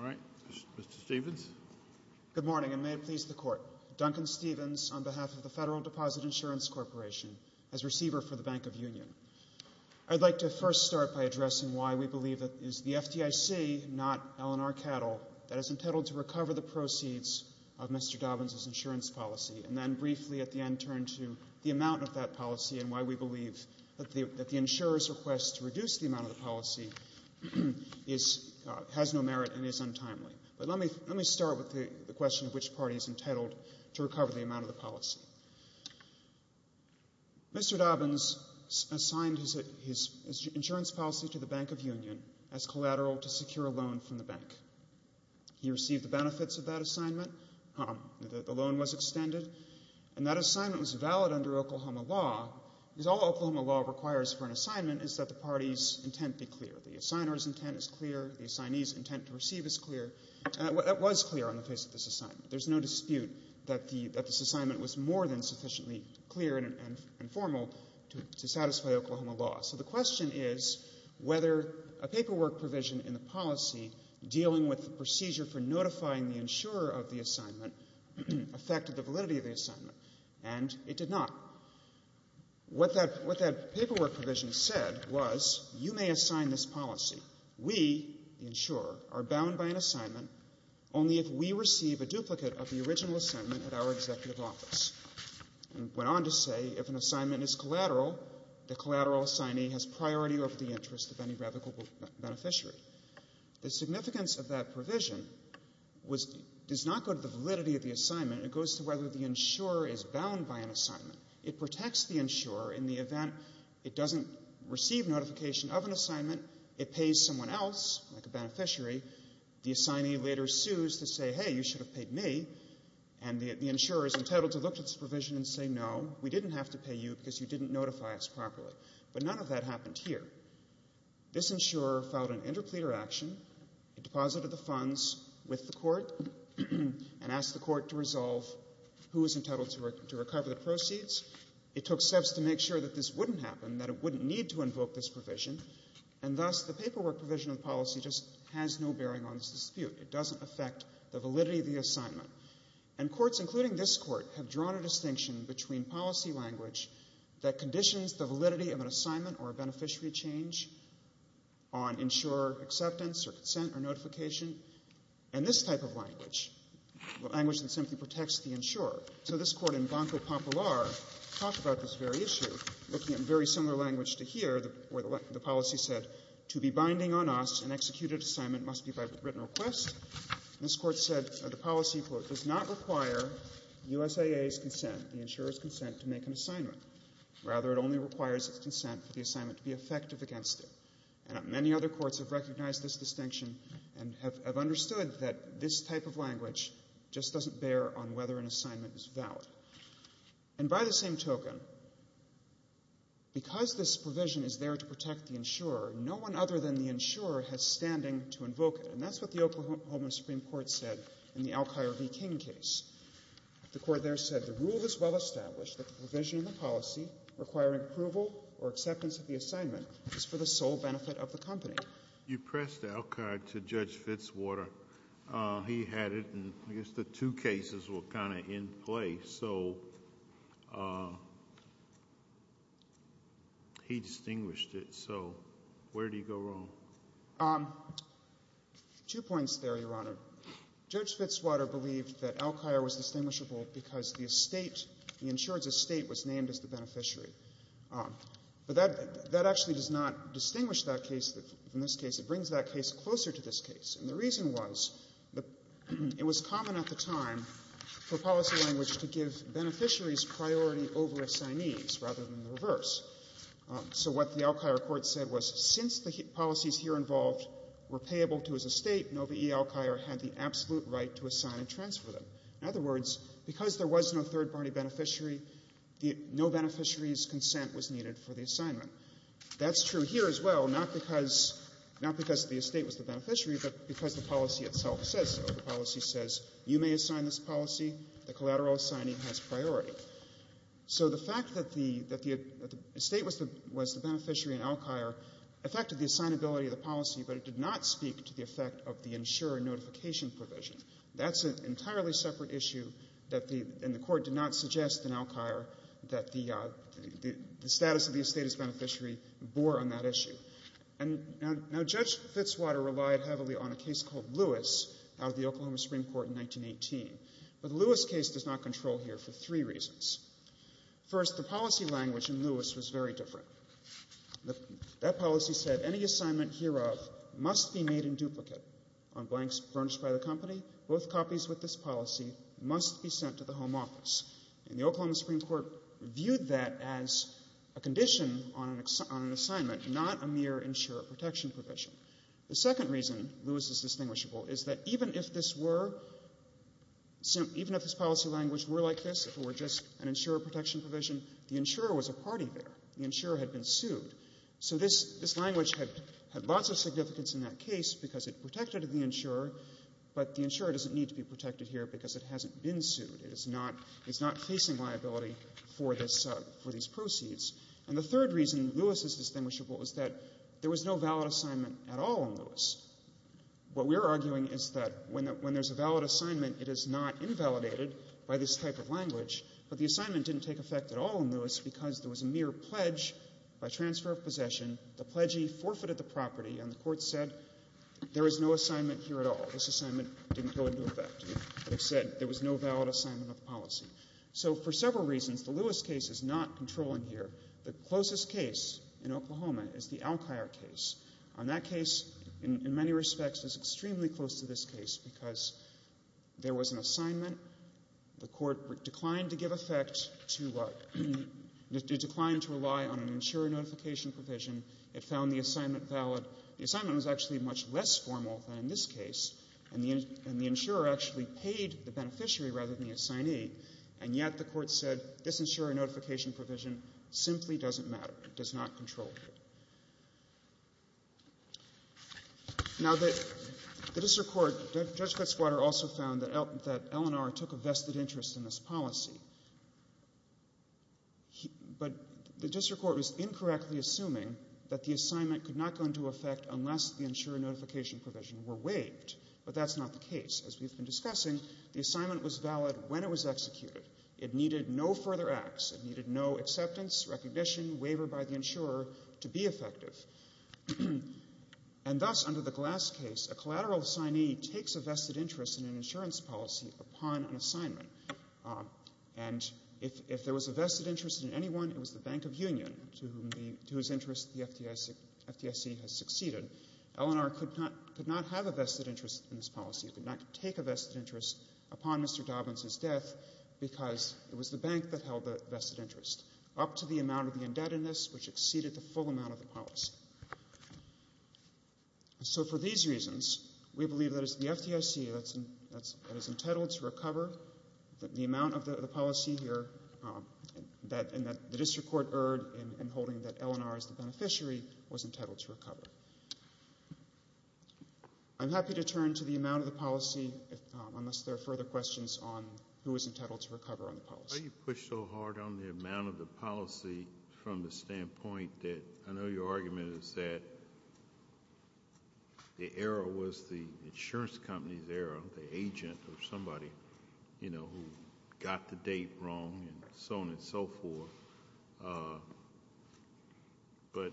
all right, Mr. Stephens. Good morning, and may it please the court. Duncan Stephens, on behalf of the Federal Deposit Insurance Corporation, as receiver for the Bank of Union. I'd like to first start by addressing why we believe it is the FDIC, not Eleanor Cattle, that is entitled to recover the proceeds of Mr. Dobbins' insurance policy, and then briefly at the end turn to the amount of that policy and why we believe that the insurer's request to reduce the amount of the policy has no merit and is untimely. But let me start with the question of which party is entitled to recover the amount of the policy. Mr. Dobbins assigned his insurance policy to the Bank of Union as collateral to secure a loan from the bank. He received the benefits of that assignment, the loan was extended, and that assignment was valid under Oklahoma law, because all Oklahoma law requires for an assignment is that the party's intent be clear. The assigner's intent is clear, the party's intent is clear. That was clear on the face of this assignment. There's no dispute that this assignment was more than sufficiently clear and formal to satisfy Oklahoma law. So the question is whether a paperwork provision in the policy dealing with the procedure for notifying the insurer of the assignment affected the validity of the assignment, and it did not. What that paperwork provision said was, you may assign this policy. We, the insurer, are bound by an assignment only if we receive a duplicate of the original assignment at our executive office. It went on to say, if an assignment is collateral, the collateral assignee has priority over the interest of any revocable beneficiary. The significance of that provision does not go to the validity of the assignment. It goes to whether the insurer is bound by an assignment. It protects the insurer in the event it doesn't receive notification of an assignment. It pays someone else, like a beneficiary. The assignee later sues to say, hey, you should have paid me. And the insurer is entitled to look at this provision and say, no, we didn't have to pay you because you didn't notify us properly. But none of that happened here. This insurer filed an interpleader action. It deposited the funds with the court and asked the court to resolve who was entitled to recover the proceeds. It took steps to make sure that this wouldn't happen, that it wouldn't need to invoke this provision, and thus the paperwork provision of the policy just has no bearing on this dispute. It doesn't affect the validity of the assignment. And courts, including this court, have drawn a distinction between policy language that conditions the validity of an assignment or a beneficiary change on insurer acceptance or consent or notification and this type of language, the language that simply protects the insurer. So this court in Banco Fidelio, where the policy said, to be binding on us, an executed assignment must be by written request. This court said the policy, quote, does not require USAA's consent, the insurer's consent, to make an assignment. Rather, it only requires its consent for the assignment to be effective against it. And many other courts have recognized this distinction and have understood that this type of language just doesn't bear on whether an assignment is valid. And by the same token, because this provision is there to protect the insurer, no one other than the insurer has standing to invoke it. And that's what the Oklahoma Supreme Court said in the Alkire v. King case. The court there said, the rule is well established that the provision in the policy requiring approval or acceptance of the assignment is for the sole benefit of the company. You pressed Alkire to Judge Fitzwater. He had it, and I guess the two cases were kind of in play. So he distinguished it. So where do you go wrong? Two points there, Your Honor. Judge Fitzwater believed that Alkire was distinguishable because the estate, the insurance estate, was named as the beneficiary. But that actually does not distinguish that case from this case. It brings that case closer to this case. And the reason was, it was common at the time for policy language to give beneficiaries priority over assignees rather than the reverse. So what the Alkire court said was, since the policies here involved were payable to his estate, Nova E. Alkire had the absolute right to assign and transfer them. In other words, because there was no third-party beneficiary, no beneficiary's consent was needed for the assignment. That's true here as well, not because the estate was the beneficiary, but because the policy itself says so. The policy says, you may assign this policy. The collateral assignee has priority. So the fact that the estate was the beneficiary in Alkire affected the assignability of the policy, but it did not speak to the effect of the insurer notification provision. That's an entirely separate issue, and the court did not suggest in Alkire that the status of the estate is beneficiary and bore on that issue. And now Judge Fitzwater relied heavily on a case called Lewis out of the Oklahoma Supreme Court in 1918. But the Lewis case does not control here for three reasons. First, the policy language in Lewis was very different. That policy said, any assignment hereof must be made in duplicate on blanks furnished by the company. Both copies with this policy must be sent to the home office. And the Oklahoma Supreme Court viewed that as a condition on an assignment, not a mere insurer protection provision. The second reason Lewis is distinguishable is that even if this were, even if this policy language were like this, if it were just an insurer protection provision, the insurer was a party there. The insurer had been sued. So this language had lots of significance in that case because it protected the insurer, but the insurer doesn't need to be protected here because it hasn't been sued. It is not, it's not facing liability for this, for these proceeds. And the third reason Lewis is distinguishable is that there was no valid assignment at all in Lewis. What we're arguing is that when there's a valid assignment, it is not invalidated by this type of language, but the assignment didn't take effect at all in Lewis because there was a mere pledge by transfer of possession. The pledgee forfeited the property and the court said, there is no assignment here at all. This assignment didn't go into effect. They said there was no valid assignment of the policy. So for several reasons, the Lewis case is not controlling here. The closest case in Oklahoma is the Alkier case. On that case, in many respects, it's extremely close to this case because there was an assignment, the court declined to give effect to a, declined to rely on an insurer notification provision. It found the assignment valid. The assignment was actually much less formal than in this case, and the insurer actually paid the beneficiary rather than the assignee, and yet the court said, this insurer notification provision simply doesn't matter. It does not control here. Now the district court, Judge Cutsquadder also found that L&R took a vested interest in this policy, but the district court was incorrectly assuming that the assignment could not go into effect unless the insurer notification provision were waived, but that's not the case. As we've been discussing, the assignment was valid when it was executed. It needed no further acts. It needed no acceptance, recognition, waiver by the insurer to be effective. And thus, under the Glass case, a collateral assignee takes a vested interest in an insurance policy upon an assignment, and if there was a vested interest in anyone, it was the Bank of Union, to whose interest the FDIC has succeeded. L&R could not have a vested interest in this policy. It could not take a vested interest upon Mr. Dobbins' death because it was the bank that held the vested interest, up to the amount of the indebtedness which exceeded the full amount of the policy. So for these reasons, we believe that it's the FDIC that is entitled to recover the amount of the policy here, and that the district court erred in holding that L&R as the beneficiary was entitled to recover. I'm happy to turn to the amount of the policy unless there are further questions on who is entitled to recover on the policy. Why do you push so hard on the amount of the policy from the standpoint that I know your argument is that the error was the insurance company's error, the agent or somebody, you got the date wrong, and so on and so forth. But,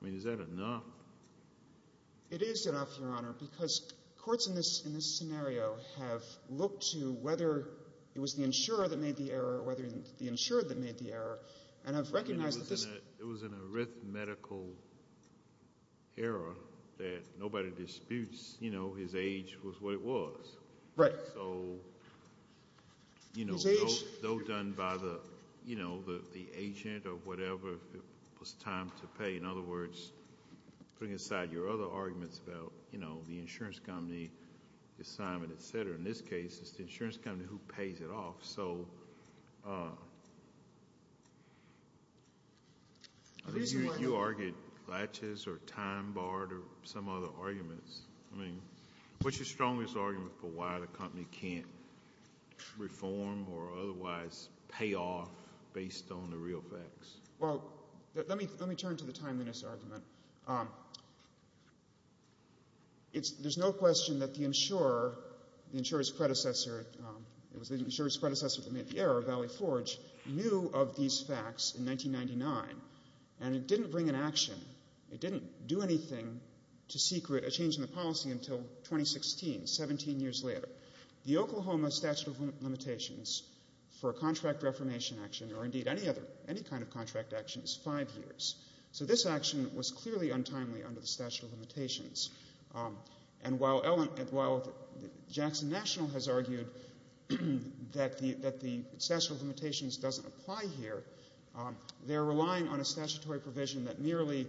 I mean, is that enough? It is enough, Your Honor, because courts in this scenario have looked to whether it was the insurer that made the error or whether it was the insurer that made the error, and I've recognized that this— I mean, it was an arithmetical error that nobody disputes. You know, his age was what it was. Right. So, you know, though done by the, you know, the agent or whatever, it was time to pay. In other words, putting aside your other arguments about, you know, the insurance company assignment, et cetera, in this case, it's the insurance company who pays it off. So, I think you argued or time-barred or some other arguments. I mean, what's your strongest argument for why the company can't reform or otherwise pay off based on the real facts? Well, let me turn to the timeliness argument. It's—there's no question that the insurer, the insurer's predecessor—it was the insurer's predecessor that made the error, Valley Forge, knew of these facts in 1999, and it didn't bring an action. It didn't do anything to secret a change in the policy until 2016, 17 years later. The Oklahoma statute of limitations for a contract reformation action or, indeed, any other—any kind of contract action is five years. So this action was clearly untimely under the statute of limitations. And while Jackson National has argued that the statute of limitations doesn't apply here, they're relying on a statutory provision that merely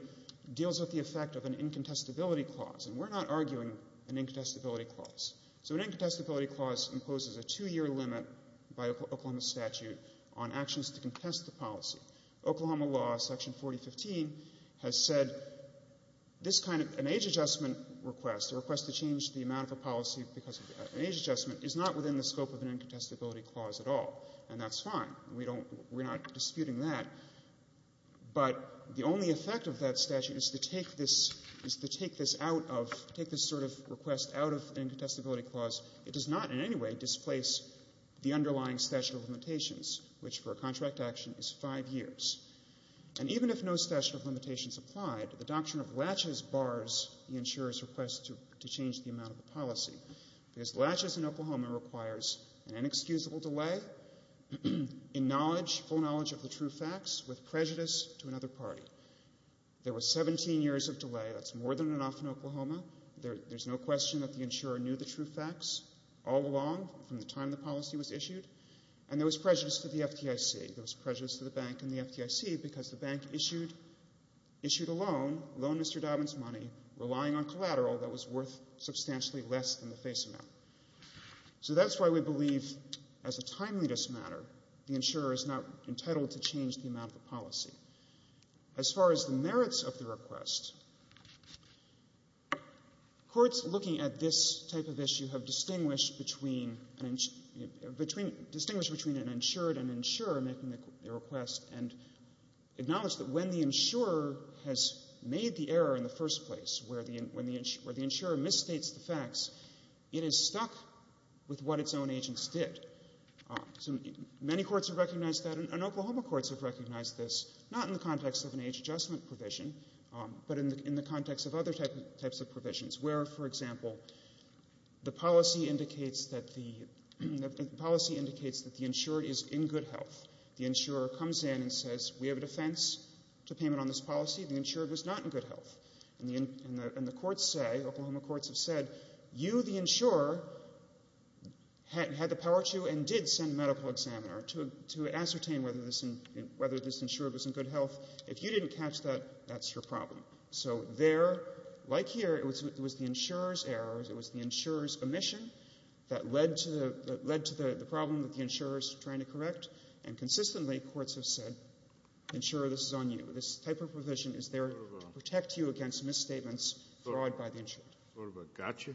deals with the effect of an incontestability clause. And we're not arguing an incontestability clause. So an incontestability clause imposes a two-year limit by Oklahoma statute on actions to contest the policy. Oklahoma law, Section 4015, has said this kind of—an age adjustment request, a request to change the amount of a policy because of an age adjustment, is not within the scope of an incontestability clause at all. And that's fine. We don't—we're not disputing that. But the only effect of that statute is to take this—is to take this out of—take this sort of request out of the incontestability clause. It does not in any way displace the underlying statute of limitations, which for a contract action is five years. And even if no statute of limitations applied, the doctrine of latches bars the insurer's request to change the amount of the policy. Because latches in Oklahoma requires an inexcusable delay in knowledge, full knowledge of the true facts, with prejudice to another party. There was 17 years of delay. That's more than enough in Oklahoma. There's no question that the insurer knew the true facts all along from the time the policy was issued. And there was prejudice to the FDIC. There was prejudice to the bank and the FDIC because the bank issued—issued a loan, loaned Mr. Dobbins money, relying on collateral that was worth substantially less than the face amount. So that's why we believe, as a timeliness matter, the insurer is not entitled to change the amount of the policy. As far as the merits of the request, courts looking at this type of issue have distinguished between—distinguished between an insured and insurer making a request and acknowledged that when the insurer has made the error in the first place, where the insurer misstates the facts, it is stuck with what its own agents did. Many courts have recognized that, and Oklahoma courts have recognized this, not in the context of an age adjustment provision, but in the context of other types of provisions, where, for example, the policy indicates that the—the policy indicates that the insured is in good health. The insurer comes in and says, we have a defense to payment on this policy. The insured was not in good health. And the courts say—Oklahoma courts have said, you, the insurer, had the power to and did send a medical examiner to ascertain whether this insured was in good health. If you didn't catch that, that's your problem. So there, like here, it was the insurer's errors, it was the insurer's omission that led to—that led to the problem that the insurer is trying to correct. And consistently, courts have said, insurer, this is on you. This type of provision is there to protect you against misstatements brought by the insurer. What about gotcha?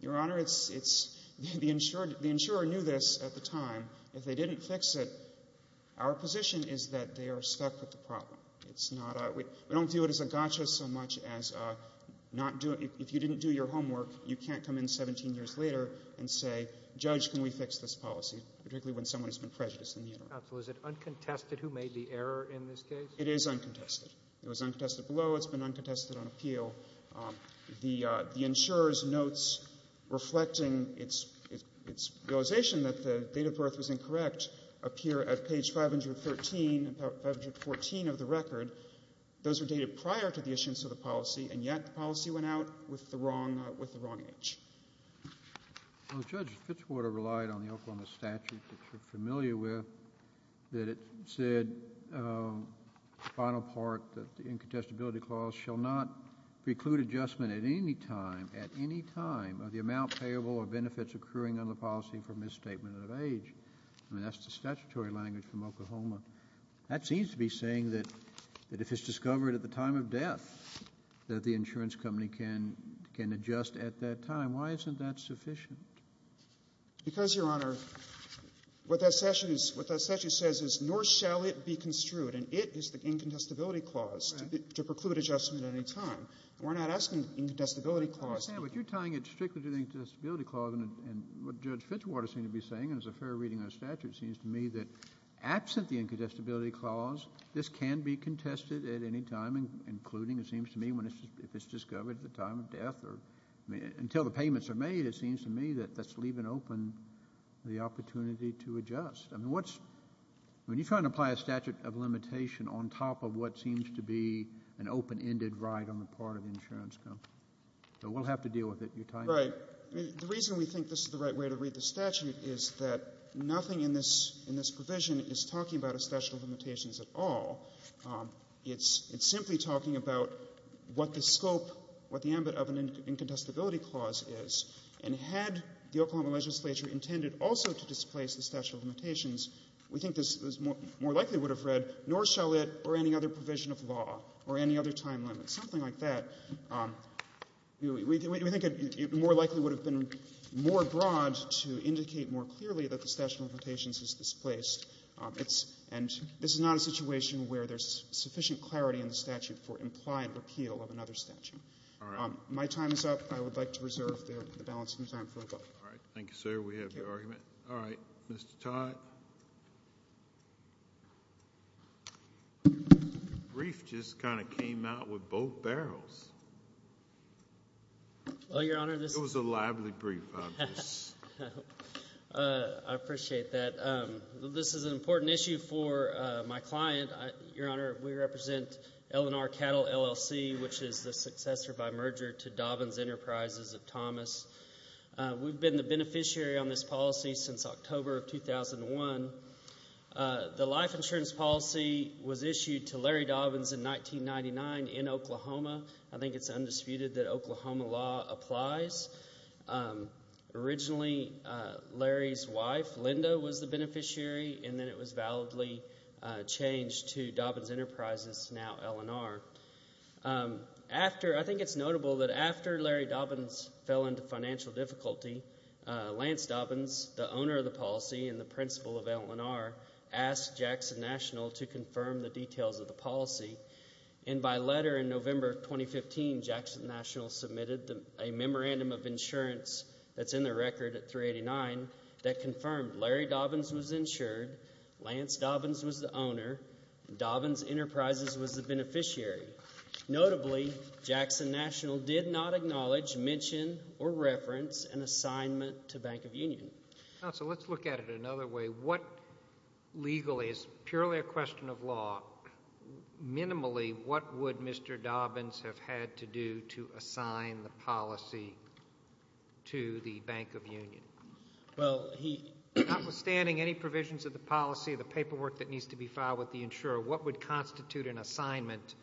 Your Honor, it's—it's—the insured—the insurer knew this at the time. If they didn't fix it, our position is that they are stuck with the problem. It's not a—we don't do it as a gotcha so much as not doing—if you didn't do your homework, you can't come in 17 years later and say, Judge, can we fix this policy, particularly when someone has been prejudiced in the interim. So is it uncontested who made the error in this case? It is uncontested. It was uncontested below. It's been uncontested on appeal. The insurer's notes reflecting its—its realization that the date of birth was incorrect appear at page 513 and 514 of the record. Those are dated prior to the issuance of the policy, and yet the policy went out with the wrong—with the wrong age. Well, Judge, Fitchwater relied on the Oklahoma statute that you're familiar with, that it said, the final part, that the incontestability clause shall not preclude adjustment at any time, at any time, of the amount payable or benefits accruing on the policy for misstatement of age. I mean, that's the statutory language from Oklahoma. That seems to be saying that if it's discovered at the time of death that the insurance company can—can adjust at that time. Why isn't that sufficient? Because, Your Honor, what that statute is—what that statute says is, nor shall it be construed, and it is the incontestability clause to preclude adjustment at any time. We're not asking incontestability clause. I understand, but you're tying it strictly to the incontestability clause, and what Judge Fitchwater seemed to be saying, and as a fair reading of the statute, seems to me that absent the incontestability clause, this can be contested at any time, including, it seems to me, when it's—if it's discovered at the time of death or—I mean, until the payments are made, it seems to me that that's leaving open the opportunity to adjust. I mean, what's—I mean, you're trying to apply a statute of limitation on top of what seems to be an open-ended right on the part of the insurance company. So we'll have to deal with it. You're tying it. Well, Your Honor, the reason we think this is the right way to read the statute is that nothing in this provision is talking about a statute of limitations at all. It's simply talking about what the scope, what the ambit of an incontestability clause is. And had the Oklahoma legislature intended also to displace the statute of limitations, we think this more likely would have read, nor shall it or any other provision of law or any other time limit, something like that. We think it more likely would have been more broad to indicate more clearly that the statute of limitations is displaced. It's—and this is not a situation where there's sufficient clarity in the statute for implied repeal of another statute. All right. My time is up. I would like to reserve the balancing time for a vote. All right. Thank you, sir. We have your argument. All right. Mr. Todd. Your brief just kind of came out with both barrels. Well, Your Honor, this— It was a lively brief, obviously. I appreciate that. This is an important issue for my client. Your Honor, we represent L&R Cattle, LLC, which is the successor by merger to Dobbins Enterprises of Thomas. We've been the beneficiary on this policy since October of 2001. The life insurance policy was issued to Larry Dobbins in 1999 in Oklahoma. I think it's undisputed that Oklahoma law applies. Originally, Larry's wife, Linda, was the beneficiary, and then it was validly changed to Dobbins Enterprises, now L&R. After—I think it's notable that after Larry Dobbins fell into financial difficulty, Lance Dobbins, the owner of the policy and the principal of L&R, asked Jackson National to confirm the details of the policy. And by letter in November of 2015, Jackson National submitted a memorandum of insurance that's in the record at 389 that confirmed Larry Dobbins was insured, Lance Dobbins was the owner, and Dobbins Enterprises was the beneficiary. Notably, Jackson National did not acknowledge, mention, or reference an assignment to Bank of Union. Counsel, let's look at it another way. What legally, as purely a question of law, minimally, what would Mr. Dobbins have had to do to assign the policy to the Bank of Union? Well, he— Notwithstanding any provisions of the policy, the paperwork that needs to be filed with the insurer, what would constitute an assignment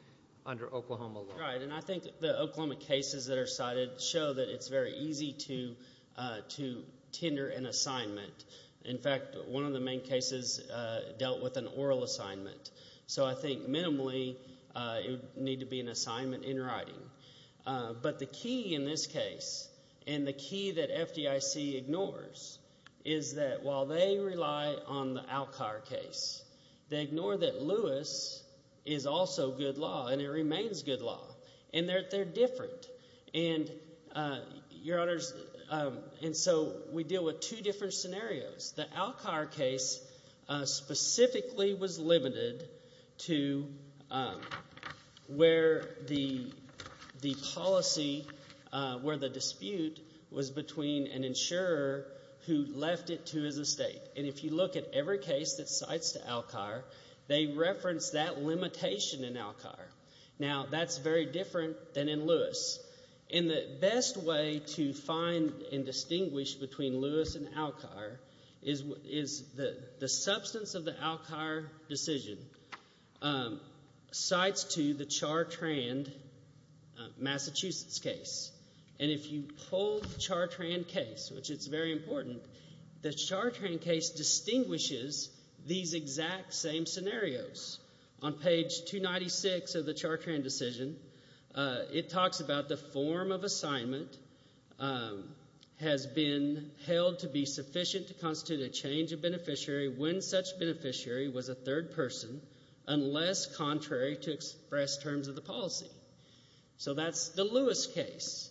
under Oklahoma law? Right, and I think the Oklahoma cases that are cited show that it's very easy to tender an assignment. In fact, one of the main cases dealt with an oral assignment. So I think minimally, it would need to be an assignment in writing. But the key in this case, and the key that FDIC ignores, is that while they rely on the Alcar case, they ignore that Lewis is also good law, and it remains good law. And they're different. And, Your Honors, and so we deal with two different scenarios. The Alcar case specifically was limited to where the policy, where the dispute was between an insurer who left it to his estate. And if you look at every case that cites Alcar, they reference that limitation in Alcar. Now, that's very different than in Lewis. And the best way to find and distinguish between Lewis and Alcar is the substance of the Alcar decision cites to the Chartrand, Massachusetts case. And if you pull the Chartrand case, which is very important, the Chartrand case distinguishes these exact same scenarios. On page 296 of the Chartrand decision, it talks about the form of assignment has been held to be sufficient to constitute a change of beneficiary when such beneficiary was a third person, unless contrary to express terms of the policy. So that's the Lewis case.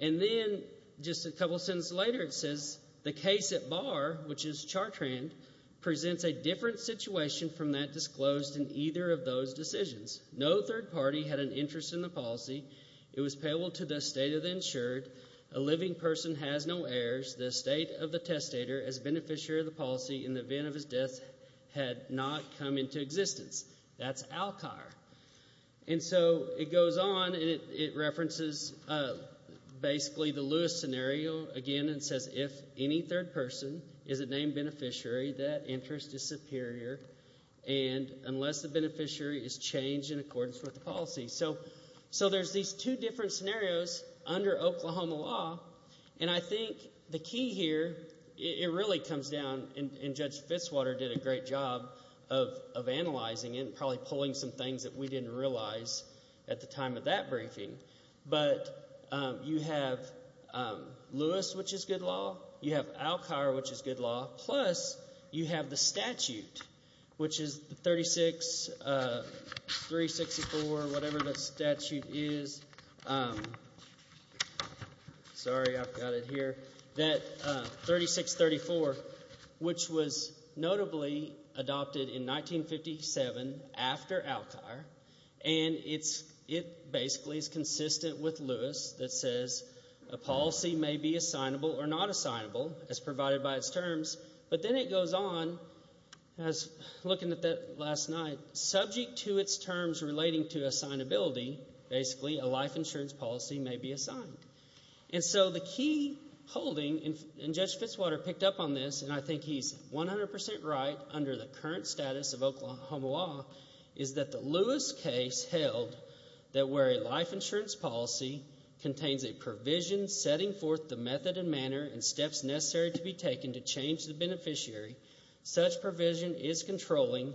And then, just a couple sentences later, it says, the case at Barr, which is Chartrand, presents a different situation from that disclosed in either of those decisions. No third party had an interest in the policy. It was payable to the estate of the insured. A living person has no heirs. The estate of the testator as beneficiary of the policy in the event of his death had not come into existence. That's Alcar. And so it goes on and it references basically the Lewis scenario again and says if any third person is a named beneficiary, that interest is superior unless the beneficiary is changed in accordance with the policy. So there's these two different scenarios under Oklahoma law. And I think the key here, it really comes down, and Judge Fitzwater did a great job of analyzing it and probably pulling some things that we didn't realize at the time of that briefing. But you have Lewis, which is good law. You have Alcar, which is good law. Plus you have the statute, which is 36364, whatever the statute is. Sorry, I've got it here. That 3634, which was notably adopted in 1957 after Alcar. And it basically is consistent with Lewis that says a policy may be assignable or not assignable as provided by its terms. But then it goes on, looking at that last night, subject to its terms relating to assignability, basically a life insurance policy may be assigned. And so the key holding, and Judge Fitzwater picked up on this, and I think he's 100 percent right under the current status of Oklahoma law is that the Lewis case held that where a life insurance policy contains a provision setting forth the method and manner and steps necessary to be taken to change the beneficiary, such provision is controlling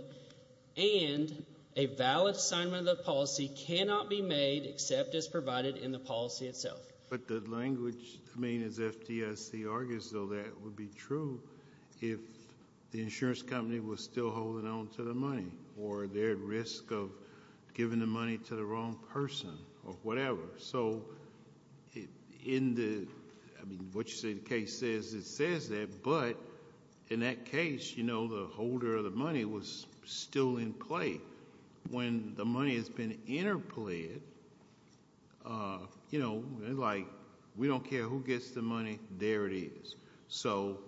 and a valid assignment of the policy cannot be made except as provided in the policy itself. But the language, I mean, as FDIC argues, though, that would be true if the insurance company was still holding on to the money or they're at risk of giving the money to the wrong person or whatever. So in the, I mean, what you say the case says, it says that. But in that case, you know, the holder of the money was still in play. When the money has been interplayed, you know, like we don't care who gets the money, there it is. So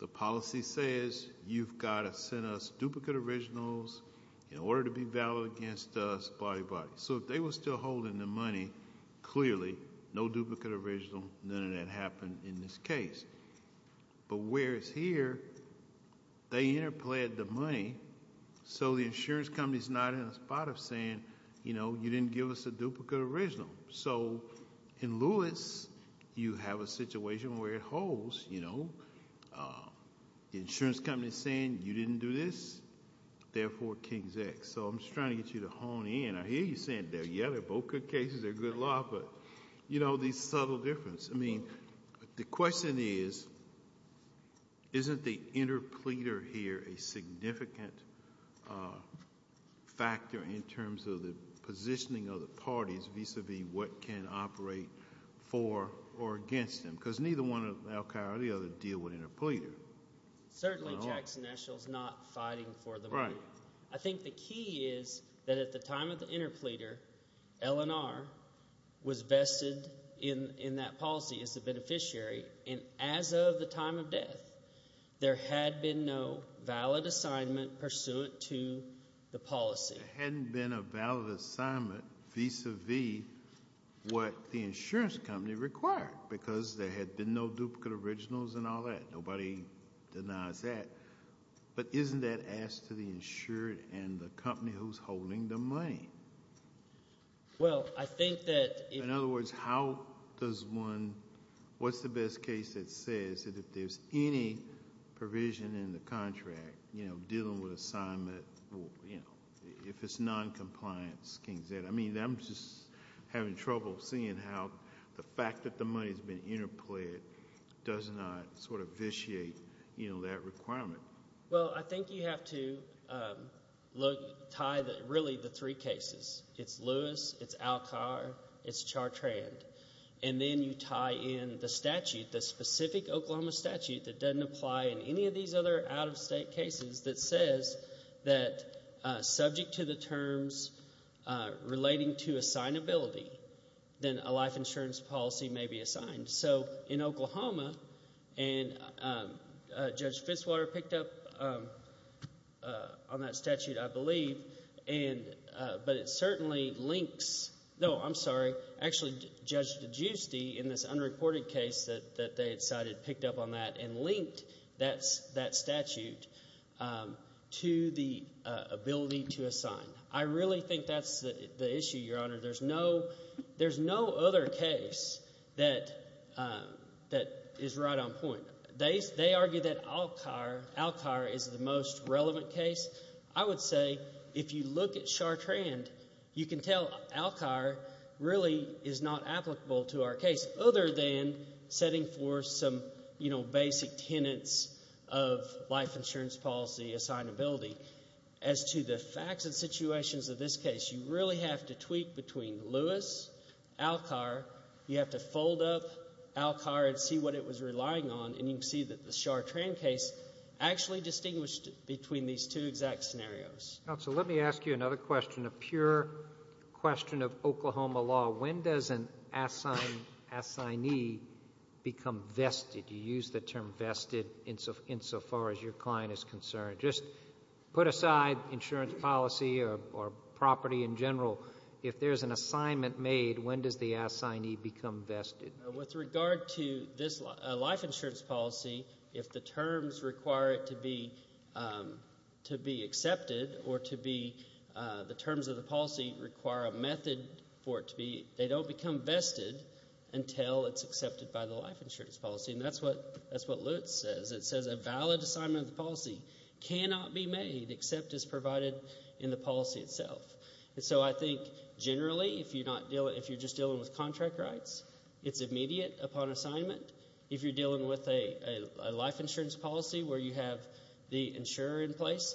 the policy says you've got to send us duplicate originals in order to be valid against us, body, body. So if they were still holding the money, clearly, no duplicate original, none of that happened in this case. But whereas here, they interplayed the money, so the insurance company is not in a spot of saying, you know, you didn't give us a duplicate original. So in Lewis, you have a situation where it holds, you know. The insurance company is saying you didn't do this, therefore, King's X. So I'm just trying to get you to hone in. I hear you saying, yeah, they're both good cases, they're good laws, but, you know, the subtle difference. I mean, the question is, isn't the interpleader here a significant factor in terms of the positioning of the parties, vis-a-vis what can operate for or against them? Because neither one of Al-Qaeda or the other deal with interpleader. Certainly Jackson Eshel is not fighting for the money. Right. I think the key is that at the time of the interpleader, LNR was vested in that policy as the beneficiary, and as of the time of death, there had been no valid assignment pursuant to the policy. There hadn't been a valid assignment vis-a-vis what the insurance company required, because there had been no duplicate originals and all that. Nobody denies that. But isn't that asked to the insured and the company who's holding the money? Well, I think that if- In other words, how does one-what's the best case that says that if there's any provision in the contract, you know, dealing with assignment, you know, if it's noncompliant, King's X, I mean, I'm just having trouble seeing how the fact that the money's been interpleaded does not sort of vitiate, you know, that requirement. Well, I think you have to tie really the three cases. It's Lewis. It's Alcar. It's Chartrand. And then you tie in the statute, the specific Oklahoma statute that doesn't apply in any of these other out-of-state cases that says that subject to the terms relating to assignability, then a life insurance policy may be assigned. So in Oklahoma, and Judge Fitzwater picked up on that statute, I believe, but it certainly links-no, I'm sorry. Actually, Judge DeGiusti in this unreported case that they had cited picked up on that and linked that statute to the ability to assign. I really think that's the issue, Your Honor. There's no other case that is right on point. They argue that Alcar is the most relevant case. I would say if you look at Chartrand, you can tell Alcar really is not applicable to our case other than setting forth some, you know, basic tenets of life insurance policy assignability. As to the facts and situations of this case, you really have to tweak between Lewis, Alcar. You have to fold up Alcar and see what it was relying on, and you can see that the Chartrand case actually distinguished between these two exact scenarios. Counsel, let me ask you another question, a pure question of Oklahoma law. When does an assignee become vested? You use the term vested insofar as your client is concerned. Just put aside insurance policy or property in general. If there's an assignment made, when does the assignee become vested? With regard to this life insurance policy, if the terms require it to be accepted or the terms of the policy require a method for it to be, they don't become vested until it's accepted by the life insurance policy. And that's what Lewis says. It says a valid assignment of the policy cannot be made except as provided in the policy itself. And so I think generally if you're just dealing with contract rights, it's immediate upon assignment. If you're dealing with a life insurance policy where you have the insurer in place,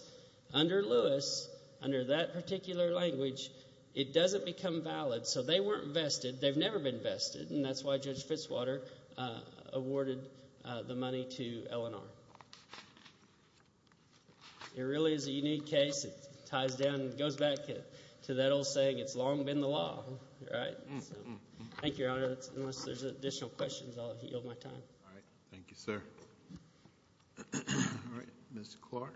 under Lewis, under that particular language, it doesn't become valid. So they weren't vested. They've never been vested, and that's why Judge Fitzwater awarded the money to Eleanor. It really is a unique case. It ties down and goes back to that old saying, it's long been the law, right? Thank you, Your Honor. Unless there's additional questions, I'll yield my time. All right. Thank you, sir. All right. Ms. Clark.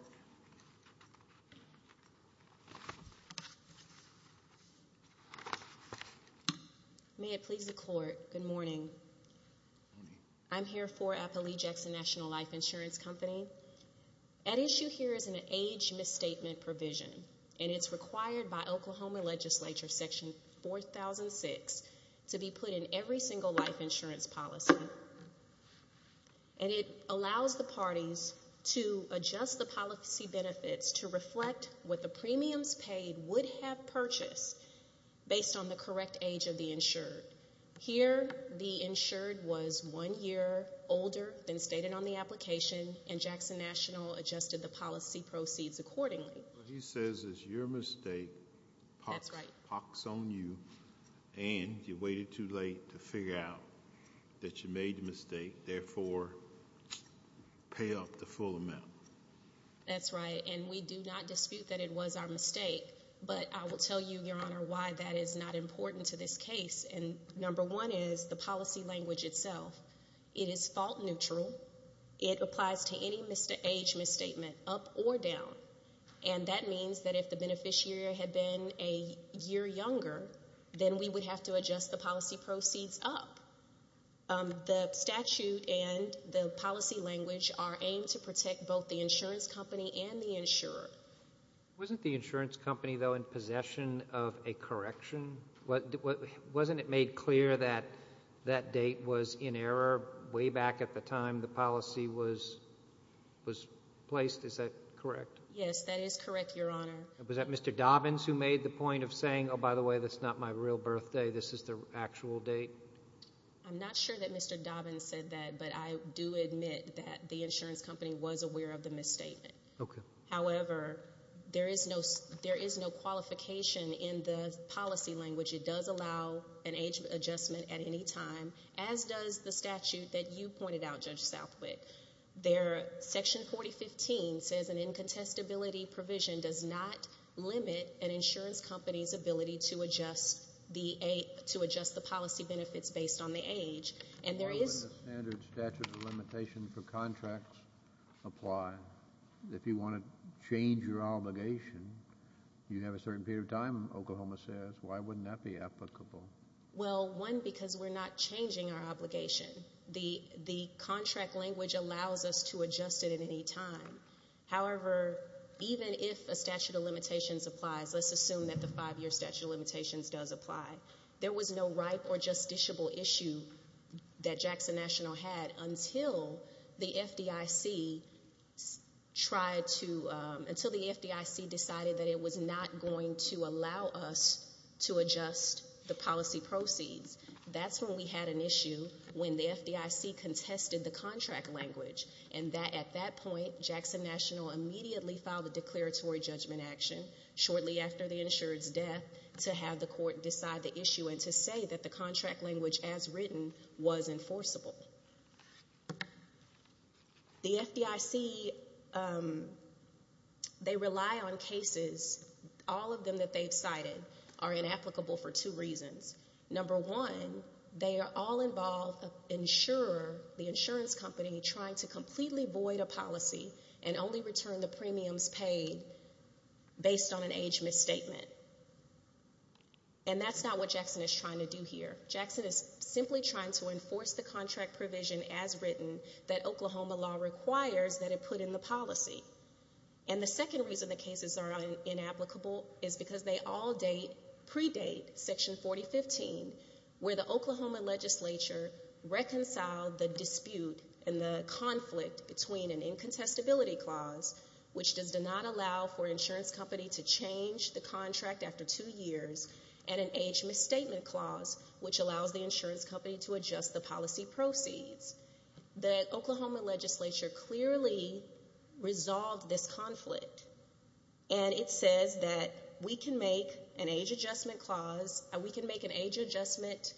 May it please the Court, good morning. I'm here for Appalachian National Life Insurance Company. At issue here is an age misstatement provision, and it's required by Oklahoma legislature section 4006 to be put in every single life insurance policy. And it allows the parties to adjust the policy benefits to reflect what the premiums paid would have purchased based on the correct age of the insured. Here the insured was one year older than stated on the application, and Jackson National adjusted the policy proceeds accordingly. He says it's your mistake. That's right. And you waited too late to figure out that you made the mistake. Therefore, pay up the full amount. That's right, and we do not dispute that it was our mistake. But I will tell you, Your Honor, why that is not important to this case. And number one is the policy language itself. It is fault neutral. It applies to any age misstatement, up or down. And that means that if the beneficiary had been a year younger, then we would have to adjust the policy proceeds up. The statute and the policy language are aimed to protect both the insurance company and the insurer. Wasn't the insurance company, though, in possession of a correction? Wasn't it made clear that that date was in error way back at the time the policy was placed? Is that correct? Yes, that is correct, Your Honor. Was that Mr. Dobbins who made the point of saying, oh, by the way, that's not my real birthday, this is the actual date? I'm not sure that Mr. Dobbins said that, but I do admit that the insurance company was aware of the misstatement. Okay. However, there is no qualification in the policy language. It does allow an age adjustment at any time, as does the statute that you pointed out, Judge Southwick. Section 4015 says an incontestability provision does not limit an insurance company's ability to adjust the policy benefits based on the age. Why wouldn't the standard statute of limitation for contracts apply? If you want to change your obligation, you have a certain period of time, Oklahoma says. Why wouldn't that be applicable? Well, one, because we're not changing our obligation. The contract language allows us to adjust it at any time. However, even if a statute of limitations applies, let's assume that the five-year statute of limitations does apply, there was no ripe or justiciable issue that Jackson National had until the FDIC decided that it was not going to allow us to adjust the policy proceeds. That's when we had an issue when the FDIC contested the contract language, and at that point Jackson National immediately filed a declaratory judgment action shortly after the insurer's death to have the court decide the issue and to say that the contract language as written was enforceable. The FDIC, they rely on cases. All of them that they've cited are inapplicable for two reasons. Number one, they are all involved, the insurer, the insurance company, trying to completely void a policy and only return the premiums paid based on an age misstatement. And that's not what Jackson is trying to do here. Jackson is simply trying to enforce the contract provision as written that Oklahoma law requires that it put in the policy. And the second reason the cases are inapplicable is because they all predate Section 4015, where the Oklahoma legislature reconciled the dispute and the conflict between an incontestability clause, which does not allow for an insurance company to change the contract after two years, and an age misstatement clause, which allows the insurance company to adjust the policy proceeds. The Oklahoma legislature clearly resolved this conflict, and it says that we can make an age adjustment clause, we can make an age adjustment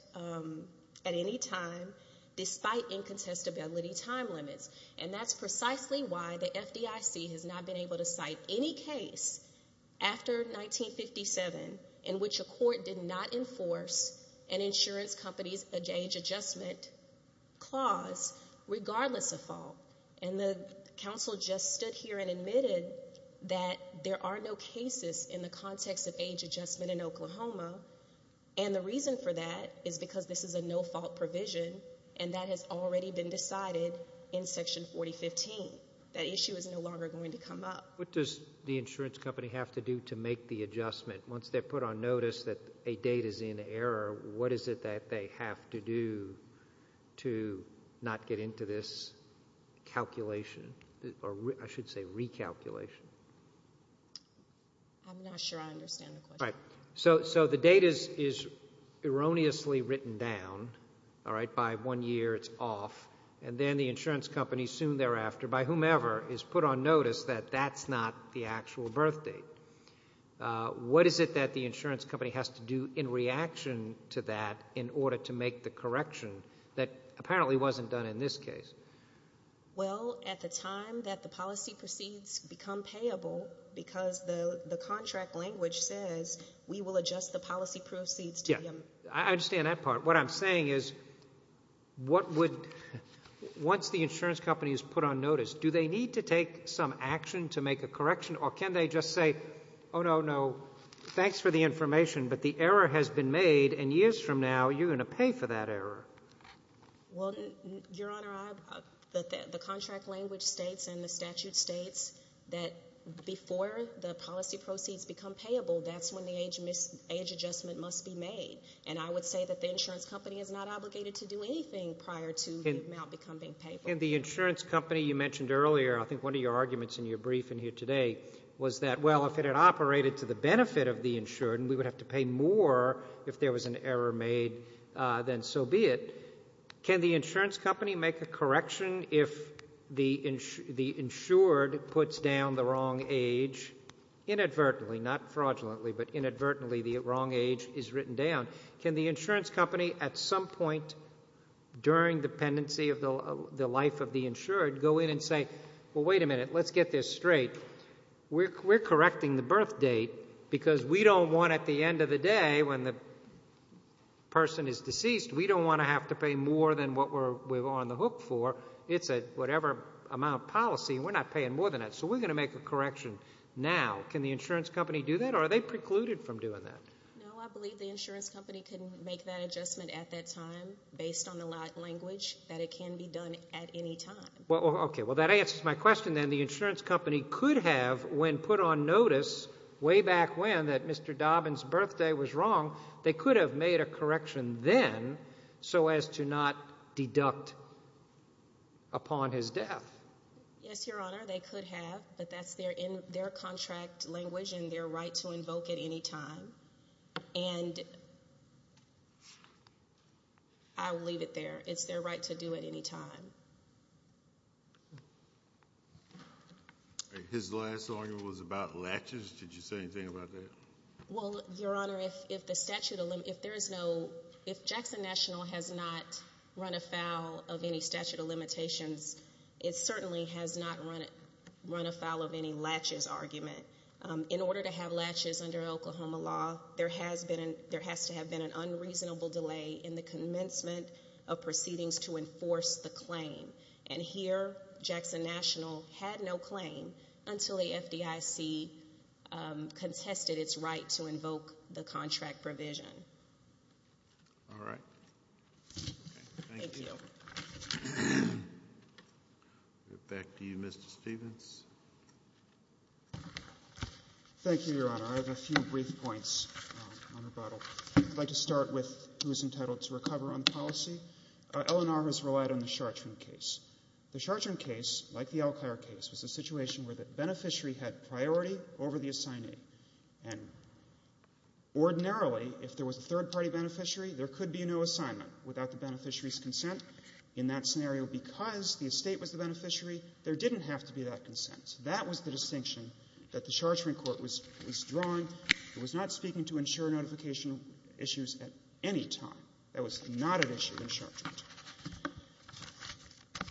at any time despite incontestability time limits. And that's precisely why the FDIC has not been able to cite any case after 1957 in which a court did not enforce an insurance company's age adjustment clause, regardless of fault. And the counsel just stood here and admitted that there are no cases in the context of age adjustment in Oklahoma, and the reason for that is because this is a no-fault provision and that has already been decided in Section 4015. That issue is no longer going to come up. What does the insurance company have to do to make the adjustment? Once they're put on notice that a date is in error, what is it that they have to do to not get into this calculation, or I should say recalculation? I'm not sure I understand the question. So the date is erroneously written down, all right, by one year it's off, and then the insurance company soon thereafter, by whomever, is put on notice that that's not the actual birth date. What is it that the insurance company has to do in reaction to that in order to make the correction that apparently wasn't done in this case? Well, at the time that the policy proceeds become payable, because the contract language says we will adjust the policy proceeds. I understand that part. What I'm saying is once the insurance company is put on notice, do they need to take some action to make a correction, or can they just say, oh, no, no, thanks for the information, but the error has been made, and years from now you're going to pay for that error? Well, Your Honor, the contract language states and the statute states that before the policy proceeds become payable, that's when the age adjustment must be made, and I would say that the insurance company is not obligated to do anything prior to the amount becoming payable. In the insurance company you mentioned earlier, I think one of your arguments in your briefing here today was that, well, if it had operated to the benefit of the insured and we would have to pay more if there was an error made, then so be it. Can the insurance company make a correction if the insured puts down the wrong age inadvertently, not fraudulently, but inadvertently the wrong age is written down? Can the insurance company at some point during the pendency of the life of the insured go in and say, well, wait a minute, let's get this straight. We're correcting the birth date because we don't want at the end of the day when the person is deceased, we don't want to have to pay more than what we're on the hook for. It's a whatever amount of policy, and we're not paying more than that, so we're going to make a correction now. Can the insurance company do that, or are they precluded from doing that? No, I believe the insurance company can make that adjustment at that time based on the language that it can be done at any time. Okay, well, that answers my question then. The insurance company could have, when put on notice way back when that Mr. Dobbin's birthday was wrong, they could have made a correction then so as to not deduct upon his death. Yes, Your Honor, they could have, but that's their contract language and their right to invoke at any time. And I will leave it there. It's their right to do it any time. His last argument was about latches. Did you say anything about that? Well, Your Honor, if Jackson National has not run afoul of any statute of limitations, it certainly has not run afoul of any latches argument. In order to have latches under Oklahoma law, there has to have been an unreasonable delay in the commencement of proceedings to enforce the claim, and here Jackson National had no claim until the FDIC contested its right to invoke the contract provision. All right. Thank you. Mr. Dobbin. Back to you, Mr. Stevens. Thank you, Your Honor. I have a few brief points on rebuttal. I'd like to start with who is entitled to recover on policy. LNR has relied on the Chartrand case. The Chartrand case, like the Elkhire case, was a situation where the beneficiary had priority over the assignee, and ordinarily if there was a third-party beneficiary, there could be no assignment without the beneficiary's consent. In that scenario, because the estate was the beneficiary, there didn't have to be that consent. That was the distinction that the Chartrand court was drawing. It was not speaking to insurer notification issues at any time. That was not an issue in Chartrand.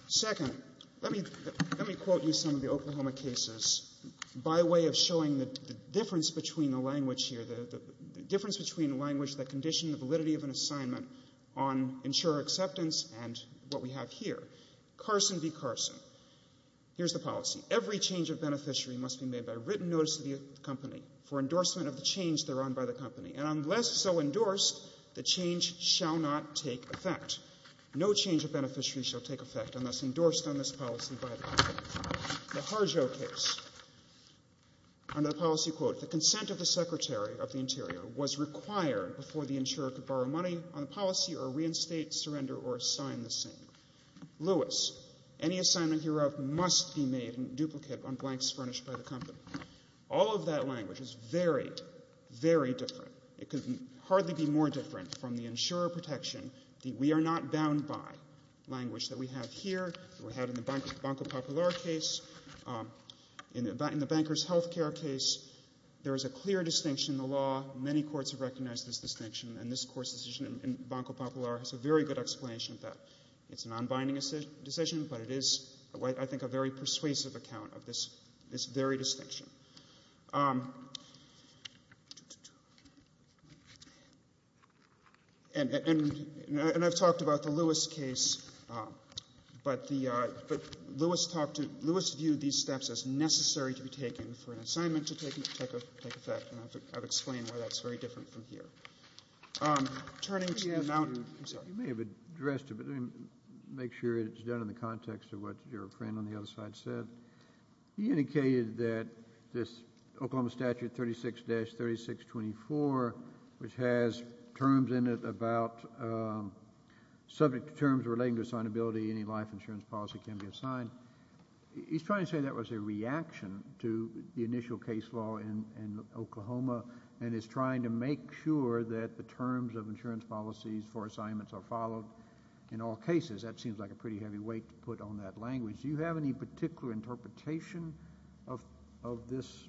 Second, let me quote you some of the Oklahoma cases by way of showing the difference between the language here, the difference between language that conditioned the validity of an assignment on insurer acceptance and what we have here. Carson v. Carson. Here's the policy. Every change of beneficiary must be made by written notice to the company for endorsement of the change they're on by the company. And unless so endorsed, the change shall not take effect. company. The Harjo case. Under the policy, quote, the consent of the secretary of the interior was required before the insurer could borrow money on the policy or reinstate, surrender, or assign the same. Lewis, any assignment hereof must be made in duplicate on blanks furnished by the company. All of that language is very, very different. It could hardly be more different from the insurer protection that we are not language that we have here, that we have in the Banco Popular case. In the bankers' health care case, there is a clear distinction in the law. Many courts have recognized this distinction, and this court's decision in Banco Popular has a very good explanation of that. It's a non-binding decision, but it is, I think, a very persuasive account of this very distinction. And I've talked about the Lewis case, but Lewis talked to, Lewis viewed these steps as necessary to be taken for an assignment to take effect, and I've explained why that's very different from here. Turning to the Mountain, I'm sorry. You may have addressed it, but let me make sure it's done in the context of what your friend on the other side said. He indicated that this Oklahoma Statute 36-3624, which has terms in it about subject to terms relating to assignability, any life insurance policy can be assigned. He's trying to say that was a reaction to the initial case law in Oklahoma, and is trying to make sure that the terms of insurance policies for assignments are followed in all cases. That seems like a pretty heavy weight to put on that language. Do you have any particular interpretation of this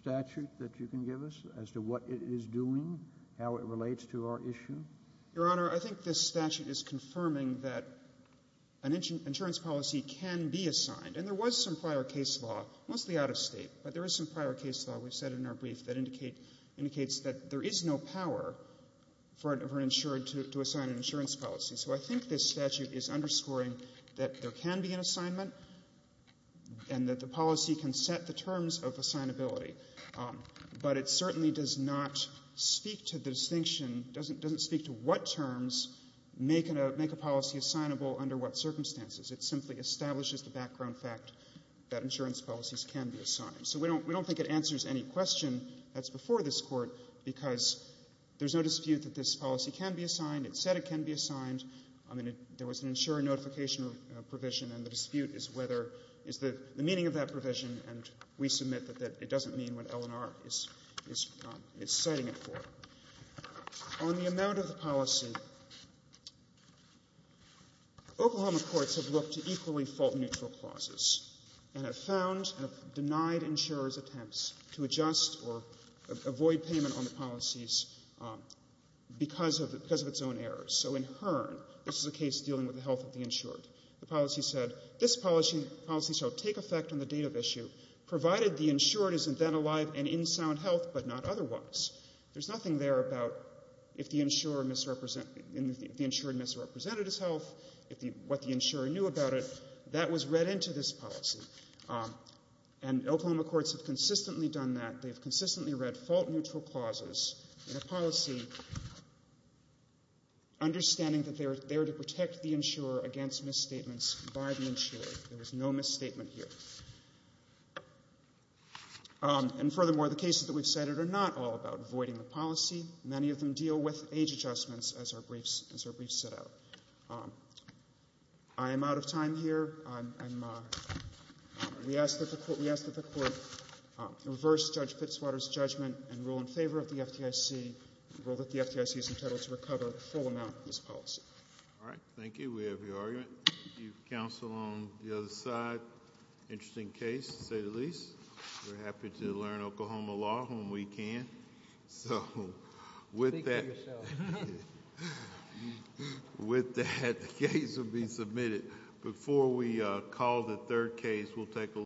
statute that you can give us as to what it is doing, how it relates to our issue? Your Honor, I think this statute is confirming that an insurance policy can be assigned, and there was some prior case law, mostly out of State, but there is some prior case law, we've said in our brief, that indicates that there is no power for an insured to assign an insurance policy. So I think this statute is underscoring that there can be an assignment and that the policy can set the terms of assignability. But it certainly does not speak to the distinction, doesn't speak to what terms make a policy assignable under what circumstances. It simply establishes the background fact that insurance policies can be assigned. So we don't think it answers any question that's before this Court, because there's no dispute that this policy can be assigned. It said it can be assigned. I mean, there was an insurer notification provision, and the dispute is whether the meaning of that provision, and we submit that it doesn't mean what L&R is citing it for. On the amount of the policy, Oklahoma courts have looked to equally fault-neutral clauses and have found and have denied insurers' attempts to adjust or avoid payment on the policies because of its own errors. So in Hearn, this is a case dealing with the health of the insured. The policy said, this policy shall take effect on the date of issue, provided the insured is then alive and in sound health, but not otherwise. There's nothing there about if the insured misrepresented his health, what the insurer knew about it. That was read into this policy. And Oklahoma courts have consistently done that. They've consistently read fault-neutral clauses in a policy, understanding that they're there to protect the insurer against misstatements by the insurer. There was no misstatement here. And furthermore, the cases that we've cited are not all about avoiding the policy. Many of them deal with age adjustments, as our briefs set out. I am out of time here. We ask that the Court reverse Judge Fitzwater's judgment and rule in favor of the FDIC, rule that the FDIC is entitled to recover the full amount of this policy. All right. Thank you. We have your argument. Do you counsel on the other side? Interesting case, to say the least. We're happy to learn Oklahoma law when we can. Speak for yourself. With that, the case will be submitted. Before we call the third case, we'll take a look.